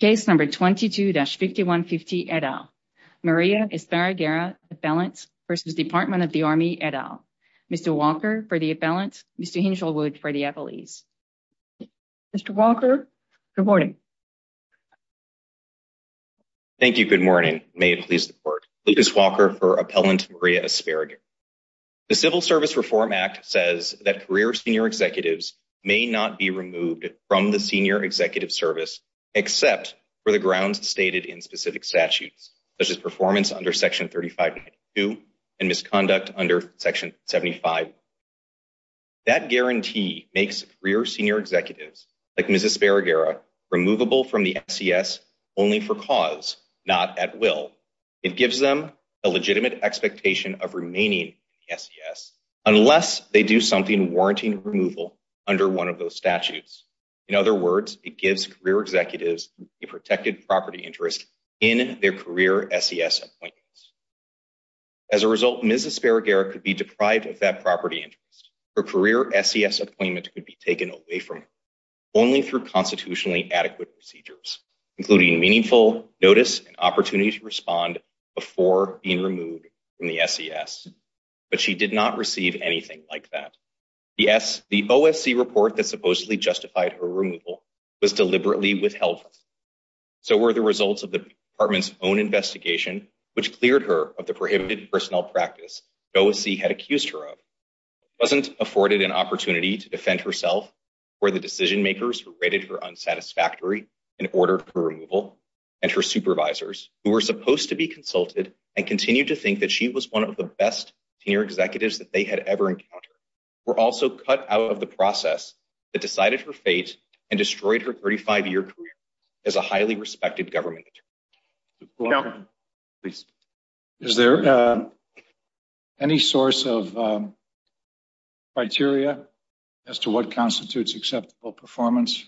Case number 22-5150, et al. Maria Esparraguera, appellant, versus Department of the Army, et al. Mr. Walker for the appellant, Mr. Hinshelwood for the appellees. Mr. Walker, good morning. Thank you, good morning. May it please the court. Lucas Walker for appellant Maria Esparraguera. The Civil Service Reform Act says that career senior executives may not be removed from the senior executive service except for the grounds stated in specific statutes, such as performance under Section 3592 and misconduct under Section 75. That guarantee makes career senior executives, like Ms. Esparraguera, removable from the SES only for cause, not at will. It gives them a legitimate expectation of remaining in the SES unless they do something warranting removal under one of those statutes. In other words, it gives career executives a protected property interest in their career SES appointments. As a result, Ms. Esparraguera could be deprived of that property interest. Her career SES appointment could be taken away from her only through constitutionally adequate procedures, including meaningful notice and opportunity to respond before being removed from the SES. But she did not receive anything like that. Yes, the OSC report that supposedly justified her removal was deliberately withheld. So were the results of the Department's own investigation, which cleared her of the prohibited personnel practice OSC had accused her of. She wasn't afforded an opportunity to defend herself or the decision makers who rated her unsatisfactory and ordered her removal. And her supervisors, who were supposed to be consulted and continue to think that she was one of the best senior executives that they had ever encountered, were also cut out of the process that decided her fate and destroyed her 35-year career. As a highly respected government. Is there any source of criteria as to what constitutes acceptable performance?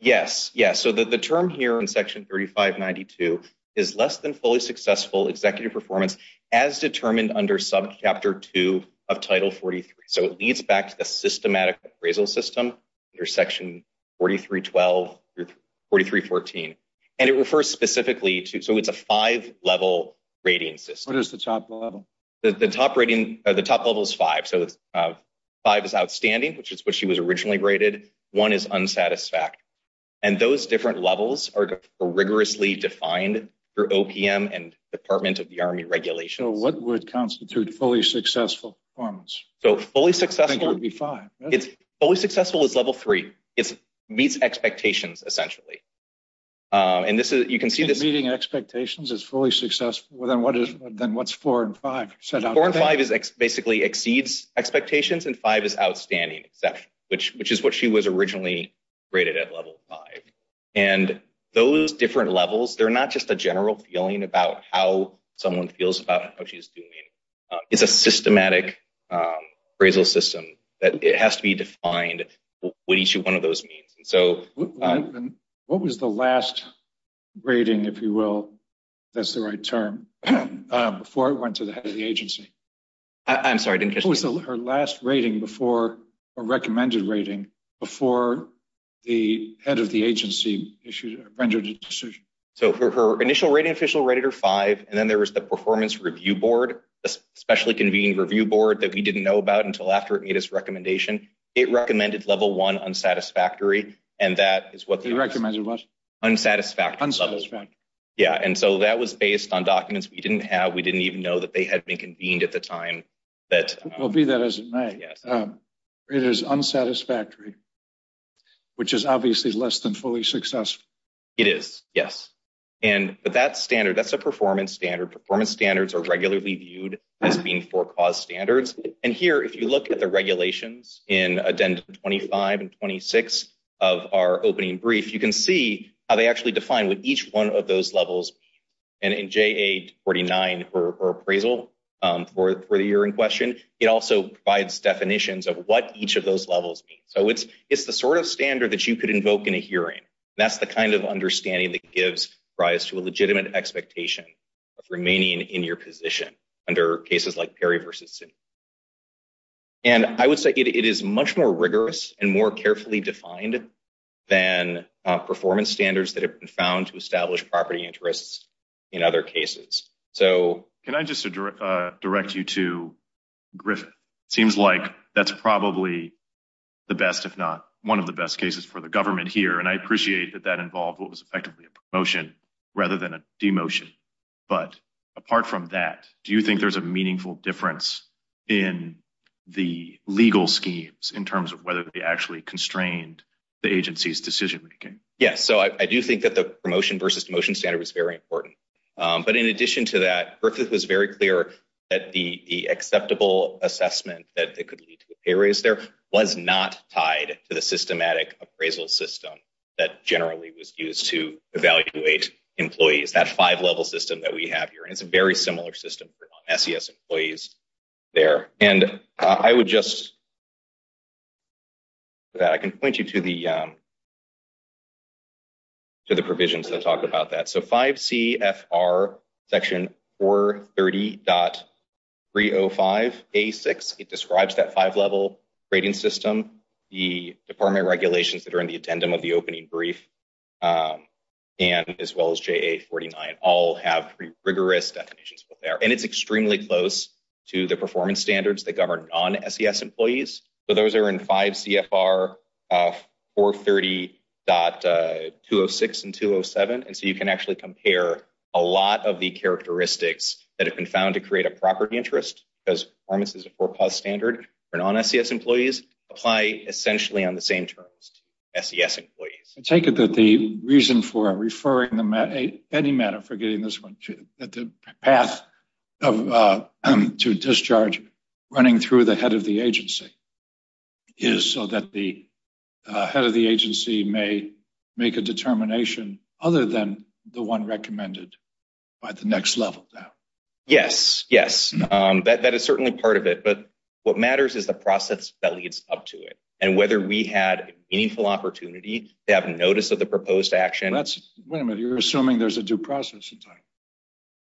Yes, yes. So the term here in section 3592 is less than fully successful executive performance as determined under sub chapter 2 of title 43. So it leads back to the systematic appraisal system under section 4312, 4314. And it refers specifically to so it's a five level rating system. What is the top level? The top rating or the top level is five. So five is outstanding, which is what she was originally rated. One is unsatisfactory. And those different levels are rigorously defined through OPM and Department of the Army regulations. So what would constitute fully successful performance? So fully successful would be five. It's fully successful is level three. It's meets expectations, essentially. And this is you can see this meeting expectations is fully successful. Then what is then what's four and five? So four and five is basically exceeds expectations and five is outstanding, which is what she was originally rated at level five. And those different levels, they're not just a general feeling about how someone feels about what she's doing. It's a systematic appraisal system that it has to be defined what each one of those means. And so what was the last rating, if you will? That's the right term. Before I went to the head of the agency. I'm sorry, her last rating before a recommended rating before the head of the agency issued a decision. So her initial rating official rated her five. And then there was the performance review board, a specially convened review board that we didn't know about until after it made its recommendation. It recommended level one unsatisfactory. And that is what the recommended was unsatisfactory. Yeah. And so that was based on documents we didn't have. We didn't even know that they had been convened at the time that will be that as it may. It is unsatisfactory. Which is obviously less than fully successful. It is. Yes. And that standard, that's a performance standard. Performance standards are regularly viewed as being for cause standards. And here, if you look at the regulations in Addendum 25 and 26 of our opening brief, you can see how they actually define what each one of those levels. And in J.A. 49 or appraisal for the year in question, it also provides definitions of what each of those levels. So it's it's the sort of standard that you could invoke in a hearing. That's the kind of understanding that gives rise to a legitimate expectation of remaining in your position. And I would say it is much more rigorous and more carefully defined than performance standards that have been found to establish property interests in other cases. So can I just direct you to Griff? Seems like that's probably the best, if not one of the best cases for the government here. And I appreciate that that involved what was effectively a promotion rather than a demotion. But apart from that, do you think there's a meaningful difference in the legal schemes in terms of whether they actually constrained the agency's decision making? Yes. So I do think that the promotion versus demotion standard was very important. But in addition to that, Griffith was very clear that the acceptable assessment that it could lead to a pay raise there was not tied to the systematic appraisal system that generally was used to evaluate employees. That five level system that we have here is a very similar system for SES employees there. And I would just. That I can point you to the. To the provisions that talk about that. So 5CFR Section 430.305A6, it describes that five level grading system. The department regulations that are in the addendum of the opening brief and as well as JA 49 all have rigorous definitions. And it's extremely close to the performance standards that govern non SES employees. So those are in 5CFR 430.206 and 207. And so you can actually compare a lot of the characteristics that have been found to create a property interest because performance is a four plus standard for non SES employees apply essentially on the same terms to SES employees. I take it that the reason for referring them at any matter, forgetting this one, that the path to discharge running through the head of the agency is so that the head of the agency may make a determination other than the one recommended by the next level. Yes, yes, that is certainly part of it. But what matters is the process that leads up to it and whether we had a meaningful opportunity to have notice of the proposed action. That's wait a minute. You're assuming there's a due process in time.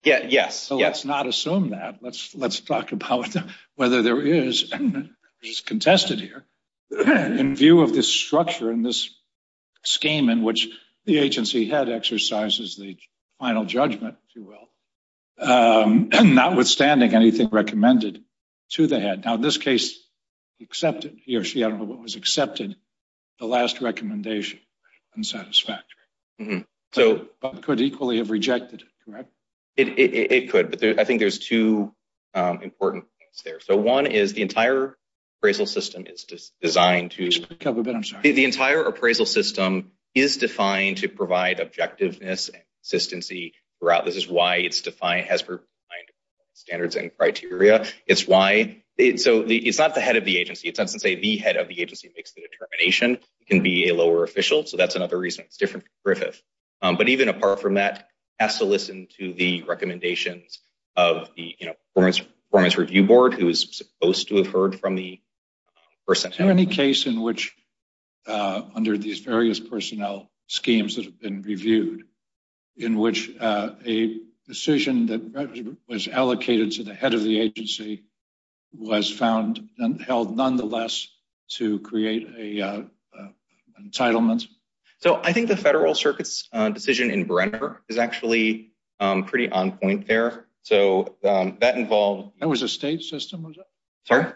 Let's not assume that let's let's talk about whether there is contested here in view of this structure in this scheme in which the agency had exercises the final judgment, if you will, notwithstanding anything recommended to the head. Now, in this case, except he or she, I don't know what was accepted, the last recommendation unsatisfactory. So could equally have rejected it, correct? It could, but I think there's two important things there. So one is the entire appraisal system is designed to the entire appraisal system is defined to provide objectiveness. This is why it's defined standards and criteria. It's why. So it's not the head of the agency. It doesn't say the head of the agency makes the determination can be a lower official. So that's another reason it's different. But even apart from that has to listen to the recommendations of the performance review board, who is supposed to have heard from the person. Is there any case in which under these various personnel schemes that have been reviewed in which a decision that was allocated to the head of the agency was found and held nonetheless to create a entitlement? So I think the Federal Circuit's decision in Brenner is actually pretty on point there. So that involved that was a state system.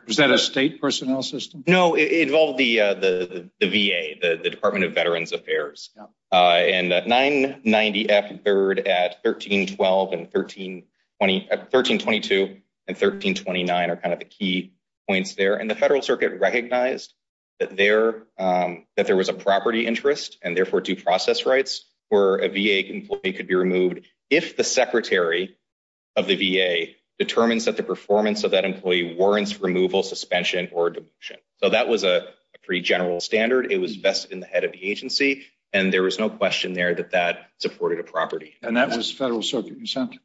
Was that a state personnel system? No, it involved the VA, the Department of Veterans Affairs. And that 990 F third at 1312 and 1320 at 1322 and 1329 are kind of the key points there. And the Federal Circuit recognized that there that there was a property interest and therefore due process rights for a VA employee could be removed if the secretary of the VA determines that the performance of that employee warrants removal, suspension or demotion. So that was a pretty general standard. It was best in the head of the agency. And there was no question there that that supported a property. And that was Federal Circuit.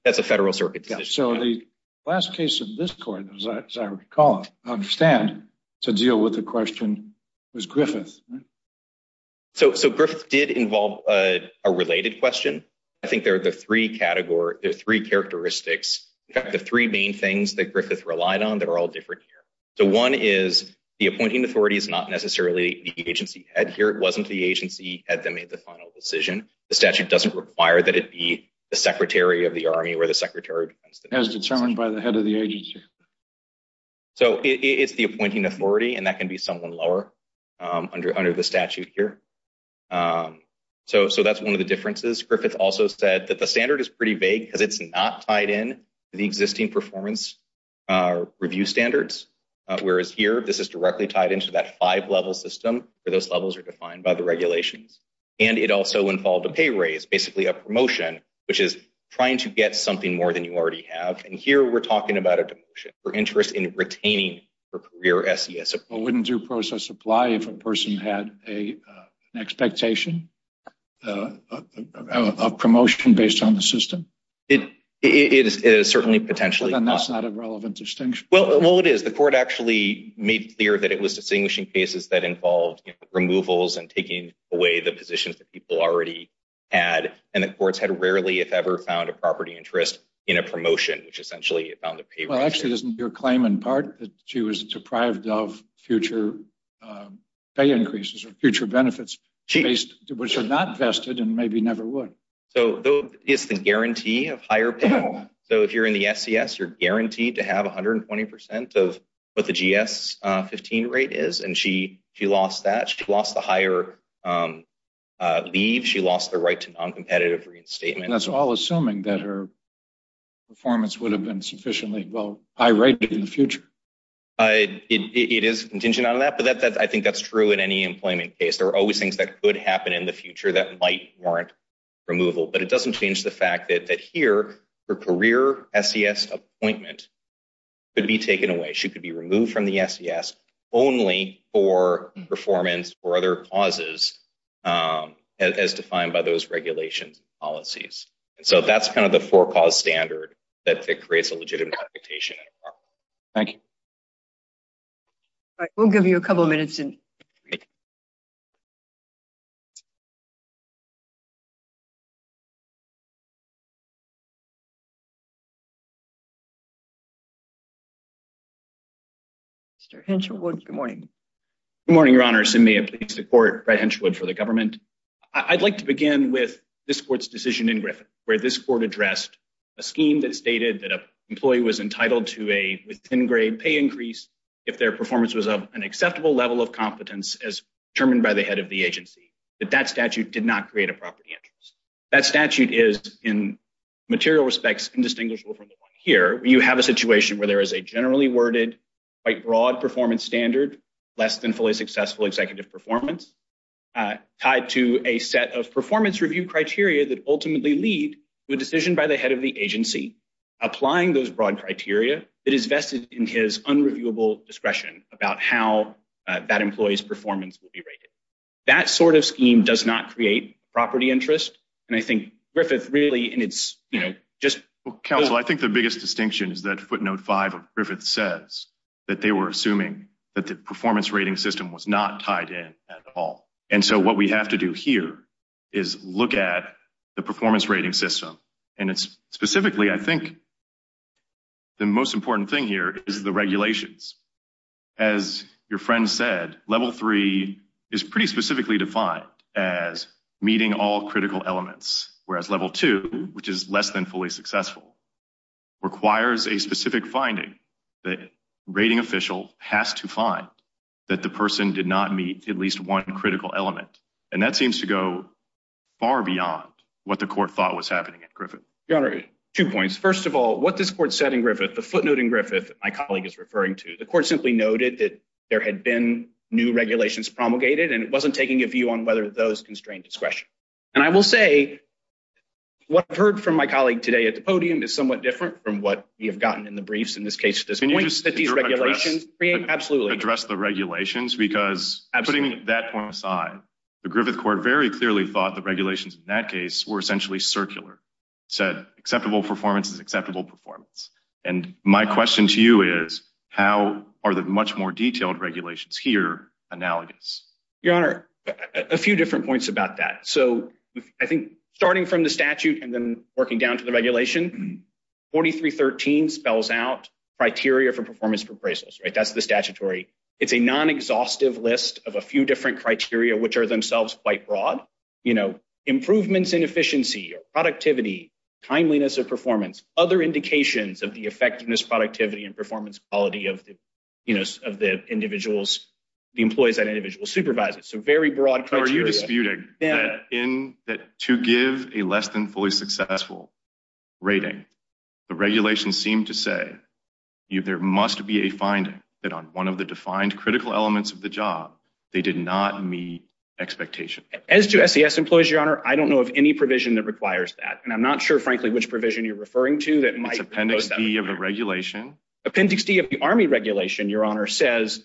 That's a Federal Circuit. So the last case of this court, as I recall, I understand to deal with the question was Griffith. So, so Griffith did involve a related question. I think there are the three categories, the three characteristics, the three main things that Griffith relied on that are all different here. So one is the appointing authority is not necessarily the agency head here. It wasn't the agency at the made the final decision. The statute doesn't require that it be the secretary of the army where the secretary has determined by the head of the agency. So, it's the appointing authority and that can be someone lower under under the statute here. So, so that's one of the differences. Griffith also said that the standard is pretty vague because it's not tied in the existing performance review standards. Whereas here, this is directly tied into that five level system where those levels are defined by the regulations. And it also involved a pay raise, basically a promotion, which is trying to get something more than you already have. And here we're talking about a demotion for interest in retaining her career. Wouldn't due process apply if a person had a expectation of promotion based on the system? It is certainly potentially relevant distinction. Well, it is the court actually made clear that it was distinguishing cases that involved removals and taking away the positions that people already had. And the courts had rarely, if ever, found a property interest in a promotion, which essentially found the pay. Well, actually, isn't your claim in part that she was deprived of future pay increases or future benefits, which are not vested and maybe never would. So, though, it's the guarantee of higher pay. So, if you're in the SES, you're guaranteed to have 120% of what the GS 15 rate is. And she lost that. She lost the higher leave. She lost the right to non-competitive reinstatement. That's all assuming that her performance would have been sufficiently high rated in the future. It is contingent on that, but I think that's true in any employment case. There are always things that could happen in the future that might warrant removal, but it doesn't change the fact that here, her career SES appointment could be taken away. She could be removed from the SES only for performance or other causes as defined by those regulations and policies. And so that's kind of the four cause standard that creates a legitimate reputation. Thank you. We'll give you a couple of minutes. Mr. Hensherwood, good morning. Good morning, Your Honor. I'm Simia. I'm pleased to court Brett Hensherwood for the government. I'd like to begin with this court's decision in Griffin, where this court addressed a scheme that stated that an employee was entitled to a within-grade pay increase if their performance was of an acceptable level of competence as determined by the head of the agency. But that statute did not create a property interest. That statute is, in material respects, indistinguishable from the one here. You have a situation where there is a generally worded, quite broad performance standard, less than fully successful executive performance, tied to a set of performance review criteria that ultimately lead to a decision by the head of the agency, applying those broad criteria that is vested in his unreviewable discretion about how that employee's performance will be rated. That sort of scheme does not create property interest. And I think Griffith really, and it's, you know, just... Counsel, I think the biggest distinction is that footnote 5 of Griffith says that they were assuming that the performance rating system was not tied in at all. And so what we have to do here is look at the performance rating system. And it's specifically, I think, the most important thing here is the regulations. As your friend said, level 3 is pretty specifically defined as meeting all critical elements. Whereas level 2, which is less than fully successful, requires a specific finding that a rating official has to find that the person did not meet at least one critical element. And that seems to go far beyond what the court thought was happening at Griffith. Your Honor, two points. First of all, what this court said in Griffith, the footnote in Griffith that my colleague is referring to, the court simply noted that there had been new regulations promulgated, and it wasn't taking a view on whether those constrained discretion. And I will say what I've heard from my colleague today at the podium is somewhat different from what we have gotten in the briefs in this case at this point. Can you just address the regulations? Because putting that point aside, the Griffith court very clearly thought the regulations in that case were essentially circular. It said acceptable performance is acceptable performance. And my question to you is, how are the much more detailed regulations here analogous? Your Honor, a few different points about that. So I think starting from the statute and then working down to the regulation, 4313 spells out criteria for performance appraisals, right? That's the statutory. It's a non-exhaustive list of a few different criteria, which are themselves quite broad. Improvements in efficiency or productivity, timeliness of performance, other indications of the effectiveness, productivity, and performance quality of the employees that individual supervises. So very broad criteria. Are you disputing that to give a less than fully successful rating, the regulations seem to say there must be a finding that on one of the defined critical elements of the job, they did not meet expectation. As to SES employees, Your Honor, I don't know of any provision that requires that. And I'm not sure, frankly, which provision you're referring to that might. Appendix D of the regulation. Appendix D of the Army regulation, Your Honor, says,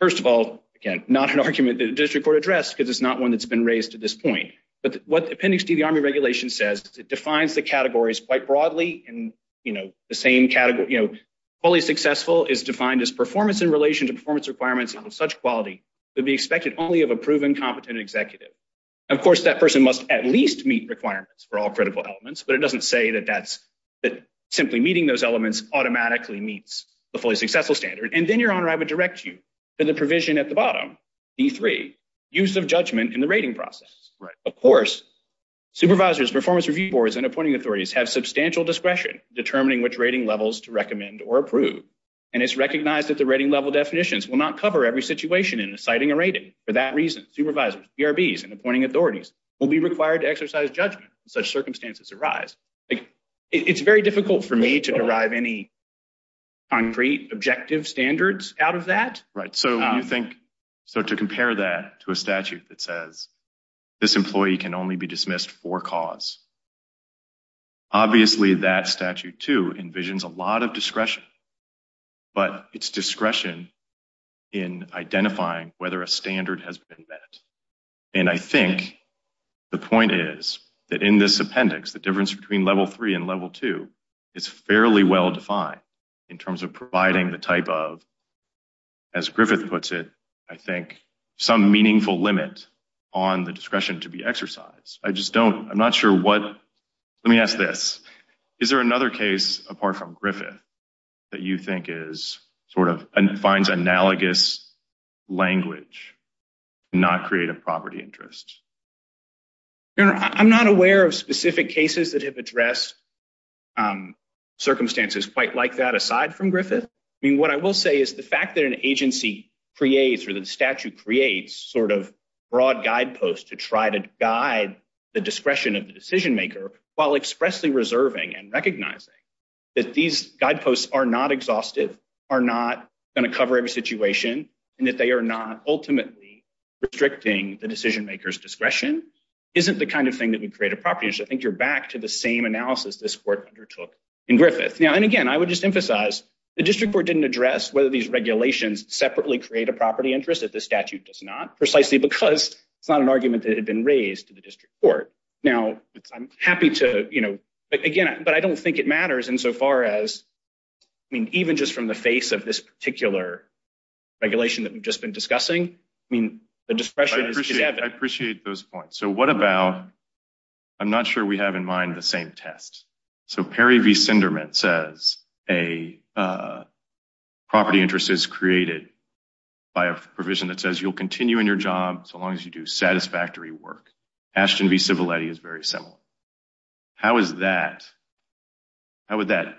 first of all, again, not an argument that the district court addressed because it's not one that's been raised to this point. But what Appendix D of the Army regulation says, it defines the categories quite broadly. And, you know, the same category, you know, fully successful is defined as performance in relation to performance requirements of such quality to be expected only of a proven competent executive. Of course, that person must at least meet requirements for all critical elements. But it doesn't say that that's simply meeting those elements automatically meets the fully successful standard. And then, Your Honor, I would direct you to the provision at the bottom, D3, use of judgment in the rating process. Of course, supervisors, performance review boards, and appointing authorities have substantial discretion determining which rating levels to recommend or approve. And it's recognized that the rating level definitions will not cover every situation in citing a rating. For that reason, supervisors, BRBs, and appointing authorities will be required to exercise judgment if such circumstances arise. It's very difficult for me to derive any concrete objective standards out of that. Right. So you think so to compare that to a statute that says this employee can only be dismissed for cause. Obviously, that statute, too, envisions a lot of discretion. But it's discretion in identifying whether a standard has been met. And I think the point is that in this appendix, the difference between Level 3 and Level 2 is fairly well defined in terms of providing the type of, as Griffith puts it, I think, some meaningful limit on the discretion to be exercised. I just don't, I'm not sure what, let me ask this. Is there another case apart from Griffith that you think is sort of, and finds analogous language to not create a property interest? I'm not aware of specific cases that have addressed circumstances quite like that aside from Griffith. I mean, what I will say is the fact that an agency creates or the statute creates sort of broad guideposts to try to guide the discretion of the decision maker, while expressly reserving and recognizing that these guideposts are not exhaustive, are not going to cover every situation, and that they are not ultimately restricting the decision maker's discretion, isn't the kind of thing that would create a property interest. I think you're back to the same analysis this Court undertook in Griffith. And again, I would just emphasize, the District Court didn't address whether these regulations separately create a property interest. This statute does not, precisely because it's not an argument that had been raised to the District Court. Now, I'm happy to, you know, again, but I don't think it matters insofar as, I mean, even just from the face of this particular regulation that we've just been discussing, I mean, the discretion is evident. I appreciate those points. So what about, I'm not sure we have in mind the same test. So Perry v. Sinderman says a property interest is created by a provision that says you'll continue in your job so long as you do satisfactory work. Ashton v. Civiletti is very similar. How is that, how would that,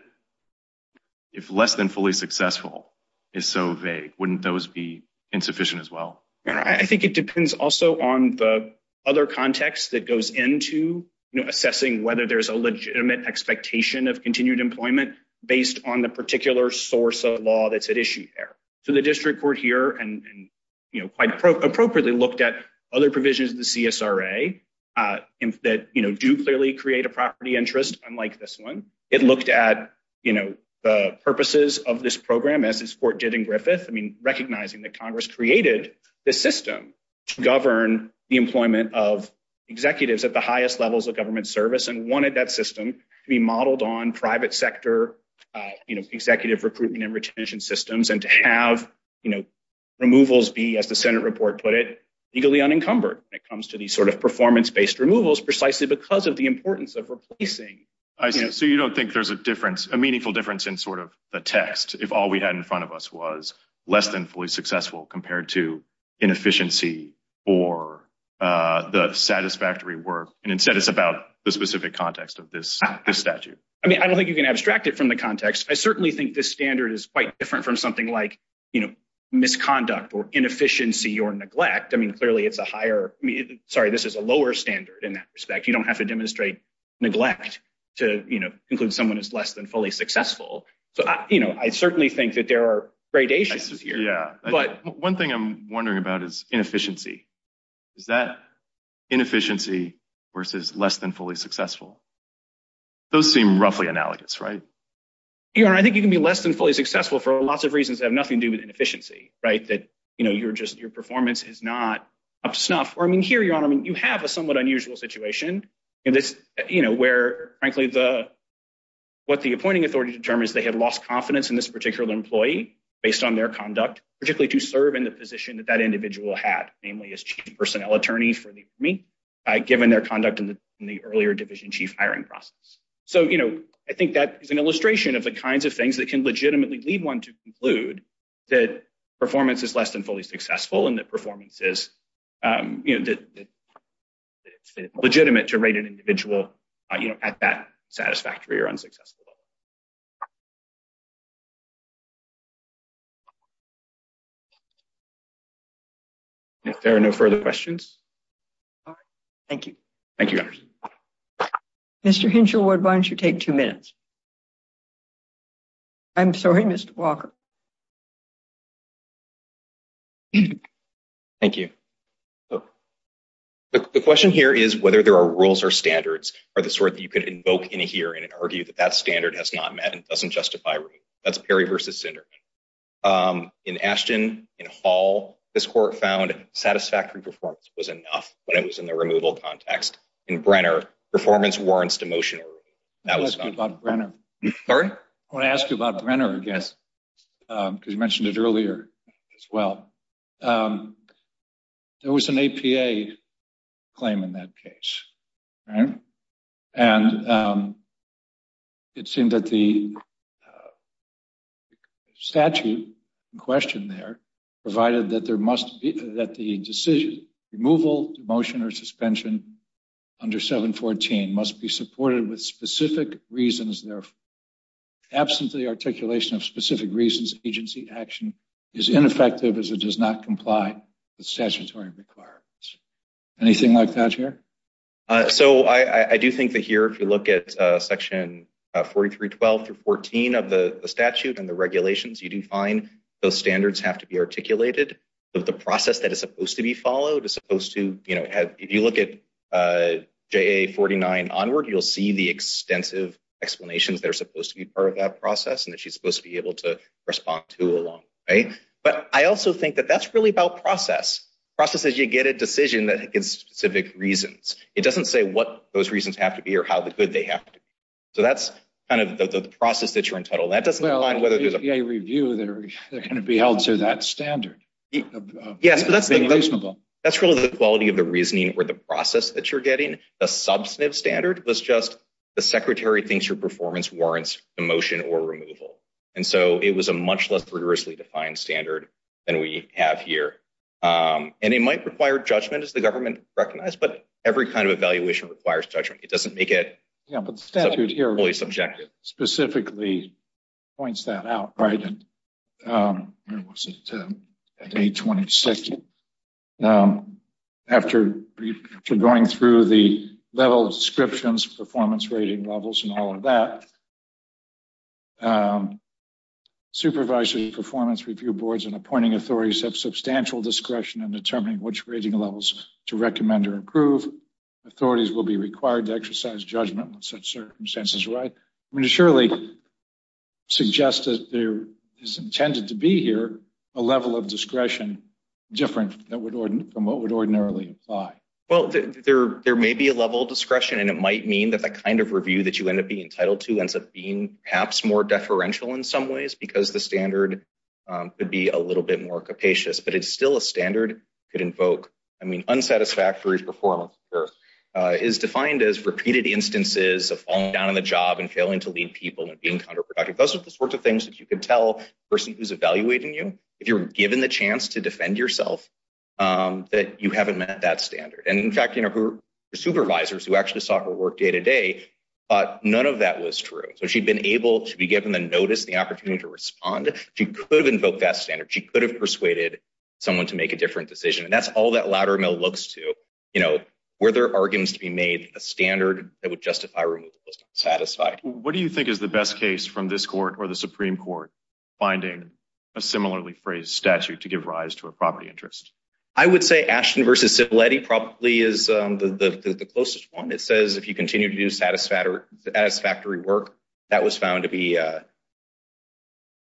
if less than fully successful is so vague, wouldn't those be insufficient as well? I think it depends also on the other context that goes into assessing whether there's a legitimate expectation of continued employment based on the particular source of law that's at issue there. So the District Court here and, you know, quite appropriately looked at other provisions of the CSRA that, you know, do clearly create a property interest, unlike this one. It looked at, you know, the purposes of this program, as this court did in Griffith. I mean, recognizing that Congress created this system to govern the employment of executives at the highest levels of government service and wanted that system to be modeled on private sector, you know, executive recruitment and retention systems, and to have, you know, removals be, as the Senate report put it, legally unencumbered when it comes to these sort of performance-based removals precisely because of the importance of replacing. So you don't think there's a difference, a meaningful difference in sort of the text if all we had in front of us was less than fully successful compared to inefficiency or the satisfactory work, and instead it's about the specific context of this statute? I mean, I don't think you can abstract it from the context. I certainly think this standard is quite different from something like, you know, misconduct or inefficiency or neglect. I mean, clearly it's a higher – sorry, this is a lower standard in that respect. You don't have to demonstrate neglect to, you know, include someone as less than fully successful. So, you know, I certainly think that there are gradations here. Yeah. One thing I'm wondering about is inefficiency. Is that inefficiency versus less than fully successful? Those seem roughly analogous, right? Your Honor, I think you can be less than fully successful for lots of reasons that have nothing to do with inefficiency, right? That, you know, you're just – your performance is not up to snuff. Or, I mean, here, Your Honor, I mean, you have a somewhat unusual situation in this, you know, where frankly the – what the appointing authority determines they have lost confidence in this particular employee based on their conduct, particularly to serve in the position that that individual had, namely as chief personnel attorney for the Army, given their conduct in the earlier division chief hiring process. So, you know, I think that is an illustration of the kinds of things that can legitimately lead one to conclude that performance is less than fully successful and that performance is, you know, legitimate to rate an individual, you know, at that satisfactory or unsuccessful level. If there are no further questions. All right. Thank you, Your Honor. Mr. Hinshelwood, why don't you take two minutes? I'm sorry, Mr. Walker. Thank you. The question here is whether there are rules or standards or the sort that you could invoke in here and argue that that standard has not met and doesn't justify a rule. That's Perry v. Sinderman. In Ashton, in Hall, this court found satisfactory performance was enough when it was in the removal context. In Brenner, performance warrants demotion. I want to ask you about Brenner, I guess, because you mentioned it earlier as well. There was an APA claim in that case, right? And it seemed that the statute in question there provided that there must be, that the decision, removal, demotion, or suspension under 714 must be supported with specific reasons. Therefore, absent the articulation of specific reasons, agency action is ineffective as it does not comply with statutory requirements. Anything like that here? So, I do think that here, if you look at section 4312 through 14 of the statute and the regulations, you do find those standards have to be articulated. The process that is supposed to be followed is supposed to, you know, if you look at JA 49 onward, you'll see the extensive explanations that are supposed to be part of that process and that she's supposed to be able to respond to along the way. But I also think that that's really about process. Process is you get a decision that gives specific reasons. It doesn't say what those reasons have to be or how good they have to be. So, that's kind of the process that you're entitled. That doesn't apply whether there's a… Well, APA review, they're going to be held to that standard. Yes, but that's the… That's reasonable. That's really the quality of the reasoning or the process that you're getting. The substantive standard was just the secretary thinks your performance warrants demotion or removal. And so, it was a much less rigorously defined standard than we have here. And it might require judgment, as the government recognized, but every kind of evaluation requires judgment. It doesn't make it… Yeah, but the statute here… …fully subjective. …specifically points that out, right? Where was it? At 826. After going through the level of descriptions, performance rating levels, and all of that, supervisory performance review boards and appointing authorities have substantial discretion in determining which rating levels to recommend or approve. Authorities will be required to exercise judgment in such circumstances, right? I mean, it surely suggests that there is intended to be here a level of discretion different from what would ordinarily apply. Well, there may be a level of discretion, and it might mean that the kind of review that you end up being entitled to ends up being perhaps more deferential in some ways because the standard could be a little bit more capacious. But it's still a standard could invoke. I mean, unsatisfactory performance is defined as repeated instances of falling down on the job and failing to lead people and being counterproductive. Those are the sorts of things that you can tell a person who's evaluating you, if you're given the chance to defend yourself, that you haven't met that standard. And, in fact, supervisors who actually saw her work day to day thought none of that was true. So she'd been able to be given the notice, the opportunity to respond. She could have invoked that standard. She could have persuaded someone to make a different decision. And that's all that Loudermill looks to, you know, were there arguments to be made, a standard that would justify removal was not satisfied. What do you think is the best case from this court or the Supreme Court, finding a similarly phrased statute to give rise to a property interest? I would say Ashton v. Cipolletti probably is the closest one. It says if you continue to do satisfactory work, that was found to be a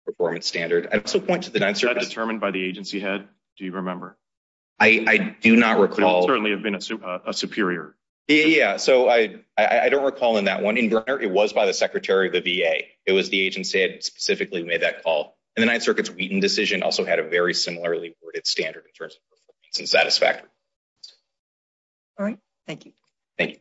performance standard. Was that determined by the agency head, do you remember? I do not recall. It could certainly have been a superior. Yeah, so I don't recall in that one. In Brenner, it was by the Secretary of the VA. It was the agency that specifically made that call. And the Ninth Circuit's Wheaton decision also had a very similarly worded standard in terms of performance and satisfactory. All right, thank you. Thank you.